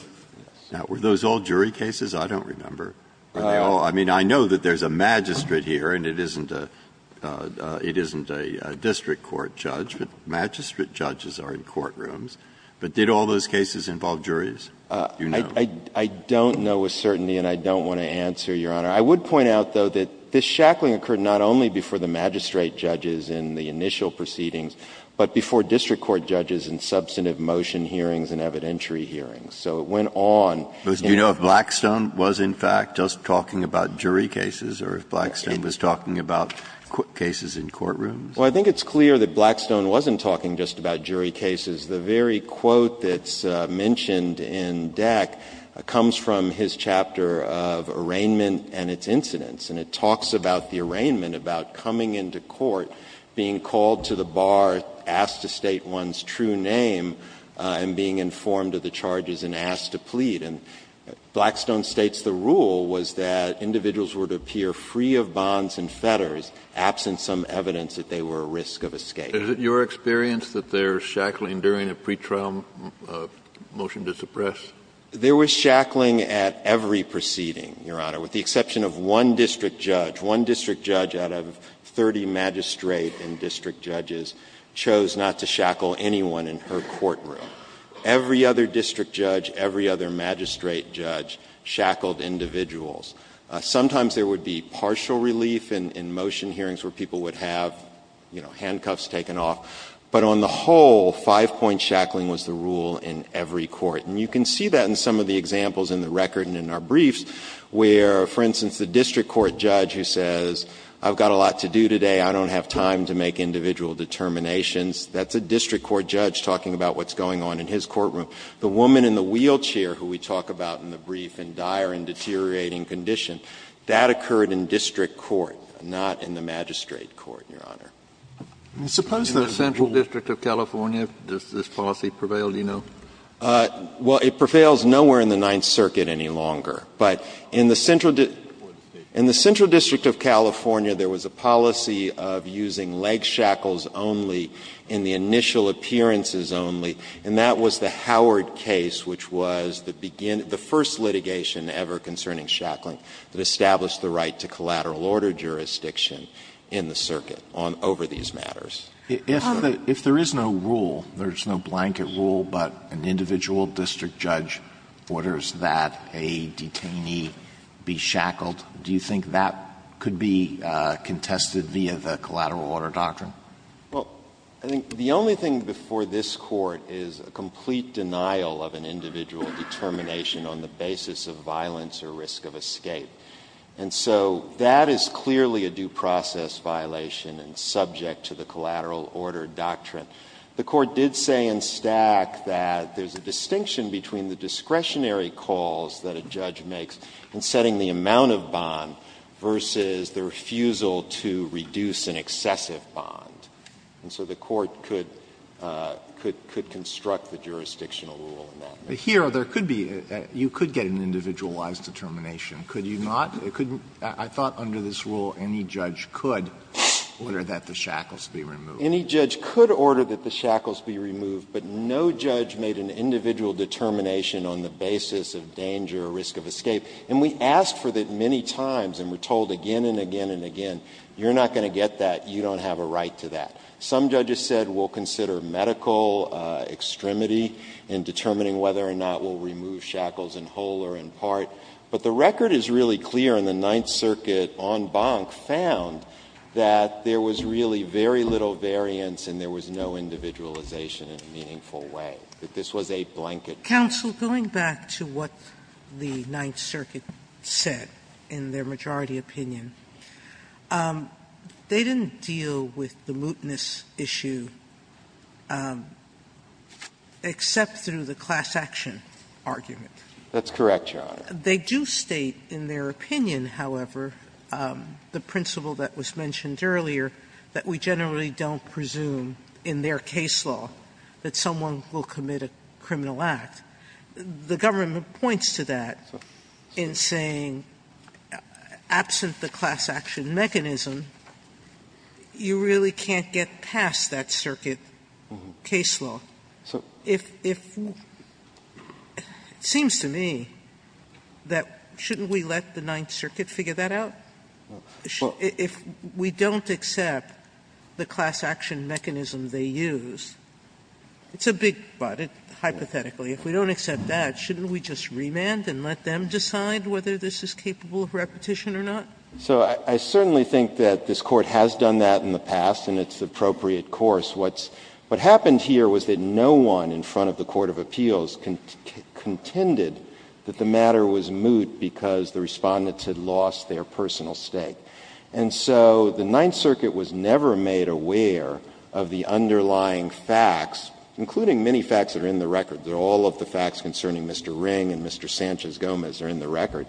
Now, were those all jury cases? I don't remember. I mean, I know that there's a magistrate here, and it isn't a district court judge, but magistrate judges are in courtrooms. But did all those cases involve juries? Do you know? I don't know with certainty, and I don't want to answer, Your Honor. I would point out, though, that this Shackling occurred not only before the magistrate judges in the initial proceedings, but before district court judges in substantive motion hearings and evidentiary hearings. So it went on. Do you know if Blackstone was, in fact, just talking about jury cases, or if Blackstone was talking about cases in courtrooms? Well, I think it's clear that Blackstone wasn't talking just about jury cases. The very quote that's mentioned in Deck comes from his chapter of arraignment and its incidence, and it talks about the arraignment, about coming into court, being called to the bar, asked to state one's true name, and being informed of the charges and asked to plead. And Blackstone states the rule was that individuals were to appear free of bonds and fetters, absent some evidence that they were at risk of escape. Is it your experience that there's Shackling during a pretrial motion to suppress? There was Shackling at every proceeding, Your Honor, with the exception of one district judge. One district judge out of 30 magistrate and district judges chose not to shackle anyone in her courtroom. Every other district judge, every other magistrate judge shackled individuals. Sometimes there would be partial relief in motion hearings where people would have, you know, handcuffs taken off. But on the whole, five-point shackling was the rule in every court. And you can see that in some of the examples in the record and in our briefs where, for instance, the district court judge who says, I've got a lot to do today, I don't have time to make individual determinations, that's a district court judge talking about what's going on in his courtroom. The woman in the wheelchair who we talk about in the brief in dire and deteriorating condition, that occurred in district court, not in the magistrate court, Your Honor. Suppose there's a rule. Kennedy, in the Central District of California, does this policy prevail, do you know? Shanmugam, Well, it prevails nowhere in the Ninth Circuit any longer. But in the Central District of California, there was a policy of using leg shackles only in the initial appearances only, and that was the Howard case, which was the first litigation ever concerning shackling that established the right to collateral order jurisdiction in the circuit over these matters. Alito, if there is no rule, there's no blanket rule, but an individual district judge orders that a detainee be shackled, do you think that could be contested via the collateral order doctrine? Shanmugam, Well, I think the only thing before this Court is a complete denial of an individual determination on the basis of violence or risk of escape. And so that is clearly a due process violation and subject to the collateral order doctrine. The Court did say in Stack that there's a distinction between the discretionary calls that a judge makes in setting the amount of bond versus the refusal to reduce an excessive bond. And so the Court could construct the jurisdictional rule in that way. Alito, but here there could be you could get an individualized determination. Could you not? I thought under this rule any judge could order that the shackles be removed. Shanmugam, Any judge could order that the shackles be removed, but no judge made an individual determination on the basis of danger or risk of escape. And we asked for that many times and were told again and again and again, you're not going to get that, you don't have a right to that. Some judges said we'll consider medical extremity in determining whether or not we'll remove shackles in whole or in part. But the record is really clear in the Ninth Circuit en banc found that there was really very little variance and there was no individualization in a meaningful way, that this was a blanket case. Sotomayor, going back to what the Ninth Circuit said in their majority opinion, they didn't deal with the mootness issue except through the class action argument. That's correct, Your Honor. They do state in their opinion, however, the principle that was mentioned earlier, that we generally don't presume in their case law that someone will commit a criminal act. The government points to that in saying, absent the class action mechanism, you really can't get past that circuit case law. So if we don't accept the class action mechanism they use, it's a big but, hypothetically. If we don't accept that, shouldn't we just remand and let them decide whether this is capable of repetition or not? So I certainly think that this Court has done that in the past and it's the appropriate course. What happened here was that no one in front of the Court of Appeals contended that the matter was moot because the Respondents had lost their personal stake. And so the Ninth Circuit was never made aware of the underlying facts, including many facts that are in the record. All of the facts concerning Mr. Ring and Mr. Sanchez-Gomez are in the record.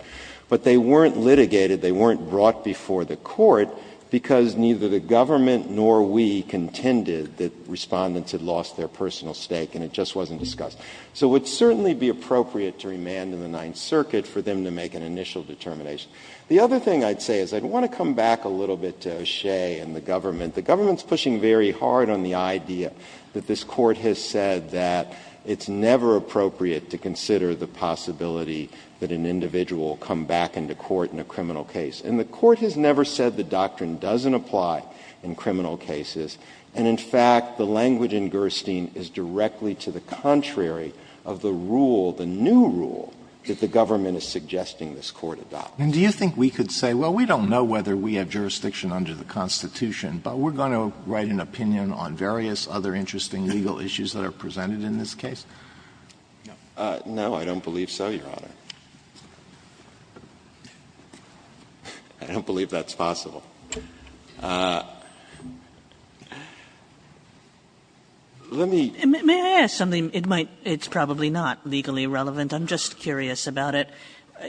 But they weren't litigated, they weren't brought before the Court, because neither the government nor we contended that Respondents had lost their personal stake and it just wasn't discussed. So it would certainly be appropriate to remand in the Ninth Circuit for them to make an initial determination. The other thing I'd say is I'd want to come back a little bit to O'Shea and the government. The government is pushing very hard on the idea that this Court has said that it's never appropriate to consider the possibility that an individual come back into court in a criminal case. And the Court has never said the doctrine doesn't apply in criminal cases. And in fact, the language in Gerstein is directly to the contrary of the rule, the new rule, that the government is suggesting this Court adopt. And do you think we could say, well, we don't know whether we have jurisdiction under the Constitution, but we're going to write an opinion on various other interesting legal issues that are presented in this case? No, I don't believe so, Your Honor. I don't believe that's possible. Let me ---- Kagan. May I ask something? It might be, it's probably not legally relevant. I'm just curious about it.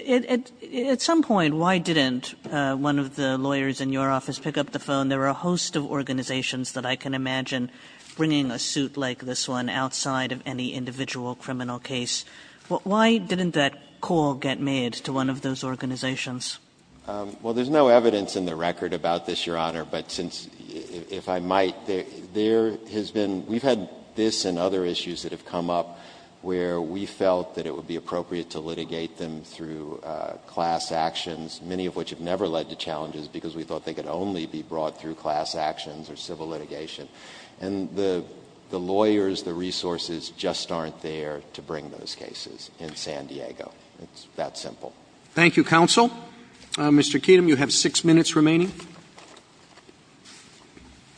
At some point, why didn't one of the lawyers in your office pick up the phone? There are a host of organizations that I can imagine bringing a suit like this one outside of any individual criminal case. Why didn't that call get made to one of those organizations? Well, there's no evidence in the record about this, Your Honor. But since, if I might, there has been, we've had this and other issues that have come up where we felt that it would be appropriate to litigate them through class actions, many of which have never led to challenges because we thought they could only be brought through class actions or civil litigation. And the lawyers, the resources just aren't there to bring those cases in San Diego. It's that simple. Thank you, counsel. Mr. Keenum, you have six minutes remaining.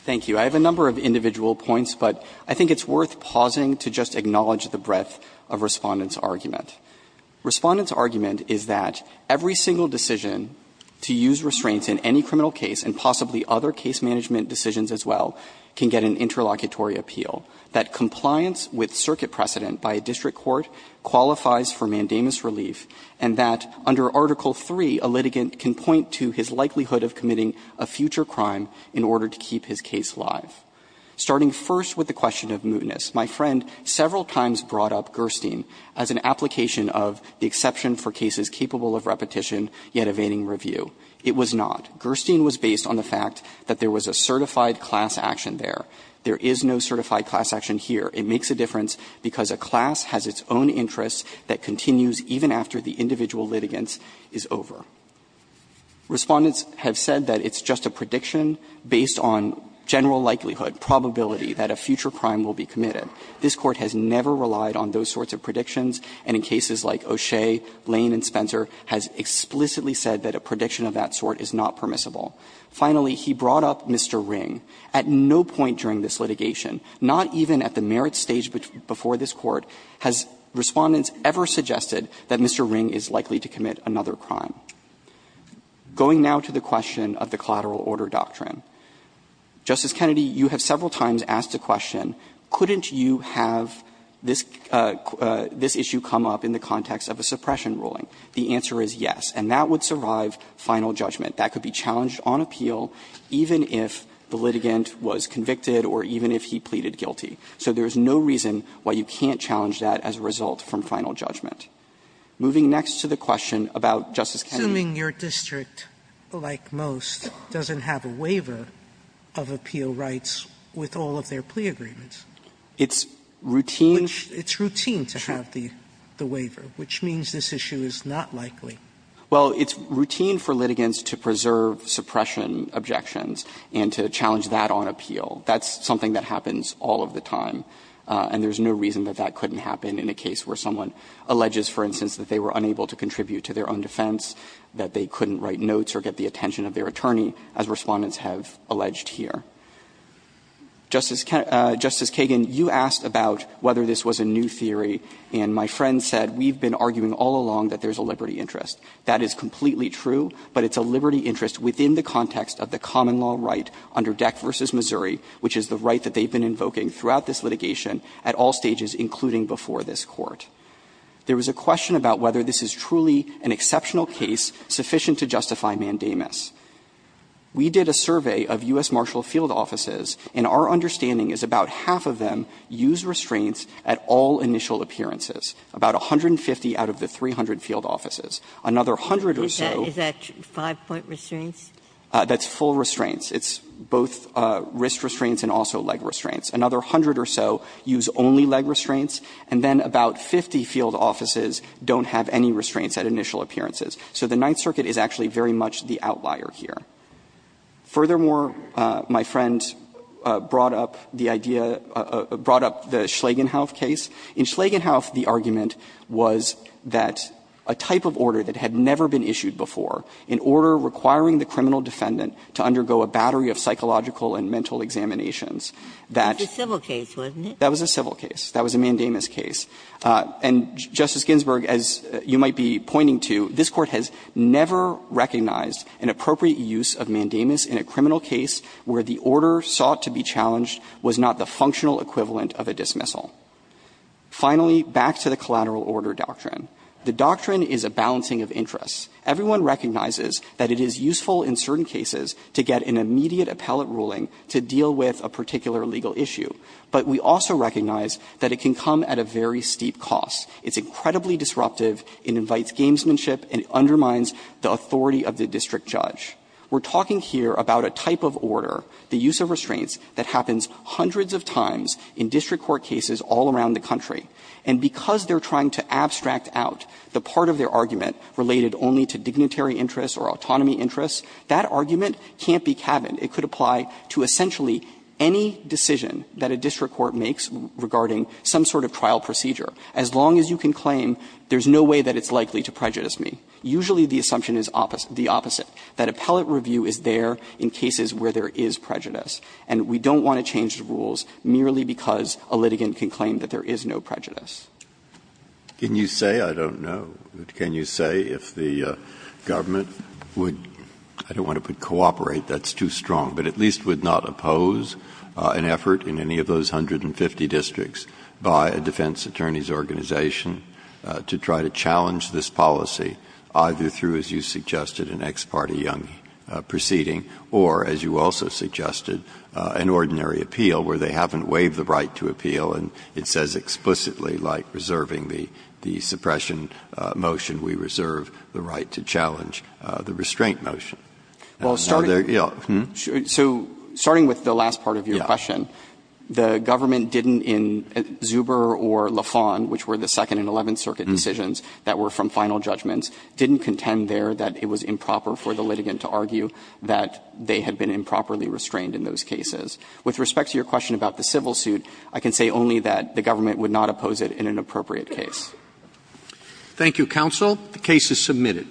Thank you. I have a number of individual points, but I think it's worth pausing to just acknowledge the breadth of Respondent's argument. Respondent's argument is that every single decision to use restraints in any criminal case and possibly other case management decisions as well can get an interlocutory appeal, that compliance with circuit precedent by a district court qualifies for mandamus relief, and that under Article III, a litigant can point to his likelihood of committing a future crime in order to keep his case live. Starting first with the question of mootness, my friend several times brought up Gerstein as an application of the exception for cases capable of repetition yet evading review. It was not. Gerstein was based on the fact that there was a certified class action there. There is no certified class action here. It makes a difference because a class has its own interests that continues even after the individual litigants is over. Respondent's have said that it's just a prediction based on general likelihood, probability that a future crime will be committed. This Court has never relied on those sorts of predictions, and in cases like O'Shea, Lane, and Spencer has explicitly said that a prediction of that sort is not permissible. Finally, he brought up Mr. Ring. At no point during this litigation, not even at the merit stage before this Court, has Respondent ever suggested that Mr. Ring is likely to commit another crime. Going now to the question of the collateral order doctrine. Justice Kennedy, you have several times asked a question, couldn't you have this issue come up in the context of a suppression ruling? The answer is yes, and that would survive final judgment. That could be challenged on appeal even if the litigant was convicted or even if he pleaded guilty. So there is no reason why you can't challenge that as a result from final judgment. Moving next to the question about Justice Kennedy. Sotomayor, assuming your district, like most, doesn't have a waiver of appeal rights with all of their plea agreements. It's routine. It's routine to have the waiver, which means this issue is not likely. Well, it's routine for litigants to preserve suppression objections and to challenge that on appeal. That's something that happens all of the time, and there's no reason that that couldn't happen in a case where someone alleges, for instance, that they were unable to contribute to their own defense, that they couldn't write notes or get the attention of their attorney, as Respondents have alleged here. Justice Kagan, you asked about whether this was a new theory, and my friend said we've been arguing all along that there's a liberty interest. That is completely true, but it's a liberty interest within the context of the common law right under Deck v. Missouri, which is the right that they've been invoking throughout this litigation at all stages, including before this Court. There was a question about whether this is truly an exceptional case sufficient to justify mandamus. We did a survey of U.S. Marshal Field Offices, and our understanding is about half of them use restraints at all initial appearances, about 150 out of the 300 field offices. Another hundred or so. Ginsburg. Is that five-point restraints? That's full restraints. It's both wrist restraints and also leg restraints. Another hundred or so use only leg restraints, and then about 50 field offices don't have any restraints at initial appearances. So the Ninth Circuit is actually very much the outlier here. Furthermore, my friend brought up the idea of the Schlagenhauf case. In Schlagenhauf, the argument was that a type of order that had never been issued before, an order requiring the criminal defendant to undergo a battery of psychological and mental examinations, that's a civil case, wasn't it? That was a civil case. That was a mandamus case. And, Justice Ginsburg, as you might be pointing to, this Court has never recognized an appropriate use of mandamus in a criminal case where the order sought to be challenged was not the functional equivalent of a dismissal. Finally, back to the collateral order doctrine. The doctrine is a balancing of interests. Everyone recognizes that it is useful in certain cases to get an immediate appellate ruling to deal with a particular legal issue, but we also recognize that it can come at a very steep cost. It's incredibly disruptive, it invites gamesmanship, and it undermines the authority of the district judge. We're talking here about a type of order, the use of restraints, that happens hundreds of times in district court cases all around the country. And because they're trying to abstract out the part of their argument related only to dignitary interests or autonomy interests, that argument can't be cabined. It could apply to essentially any decision that a district court makes regarding some sort of trial procedure, as long as you can claim there's no way that it's likely to prejudice me. Usually the assumption is the opposite, that appellate review is there in cases where there is prejudice, and we don't want to change the rules merely because a litigant can claim that there is no prejudice. Breyer. Can you say, I don't know, can you say if the government would, I don't want to put cooperate, that's too strong, but at least would not oppose an effort in any of those 150 districts by a defense attorney's organization to try to challenge this policy, either through, as you suggested, an ex parte young proceeding, or, as you also suggested, an ordinary appeal where they haven't waived the right to appeal and it says explicitly, like reserving the suppression motion, we reserve the right to challenge the restraint motion? Now, there's the other, yeah, hmm? The government didn't in Zuber or Lafon, which were the 2nd and 11th circuit decisions that were from final judgments, didn't contend there that it was improper for the litigant to argue that they had been improperly restrained in those cases. With respect to your question about the civil suit, I can say only that the government would not oppose it in an appropriate case. Thank you, counsel. The case is submitted.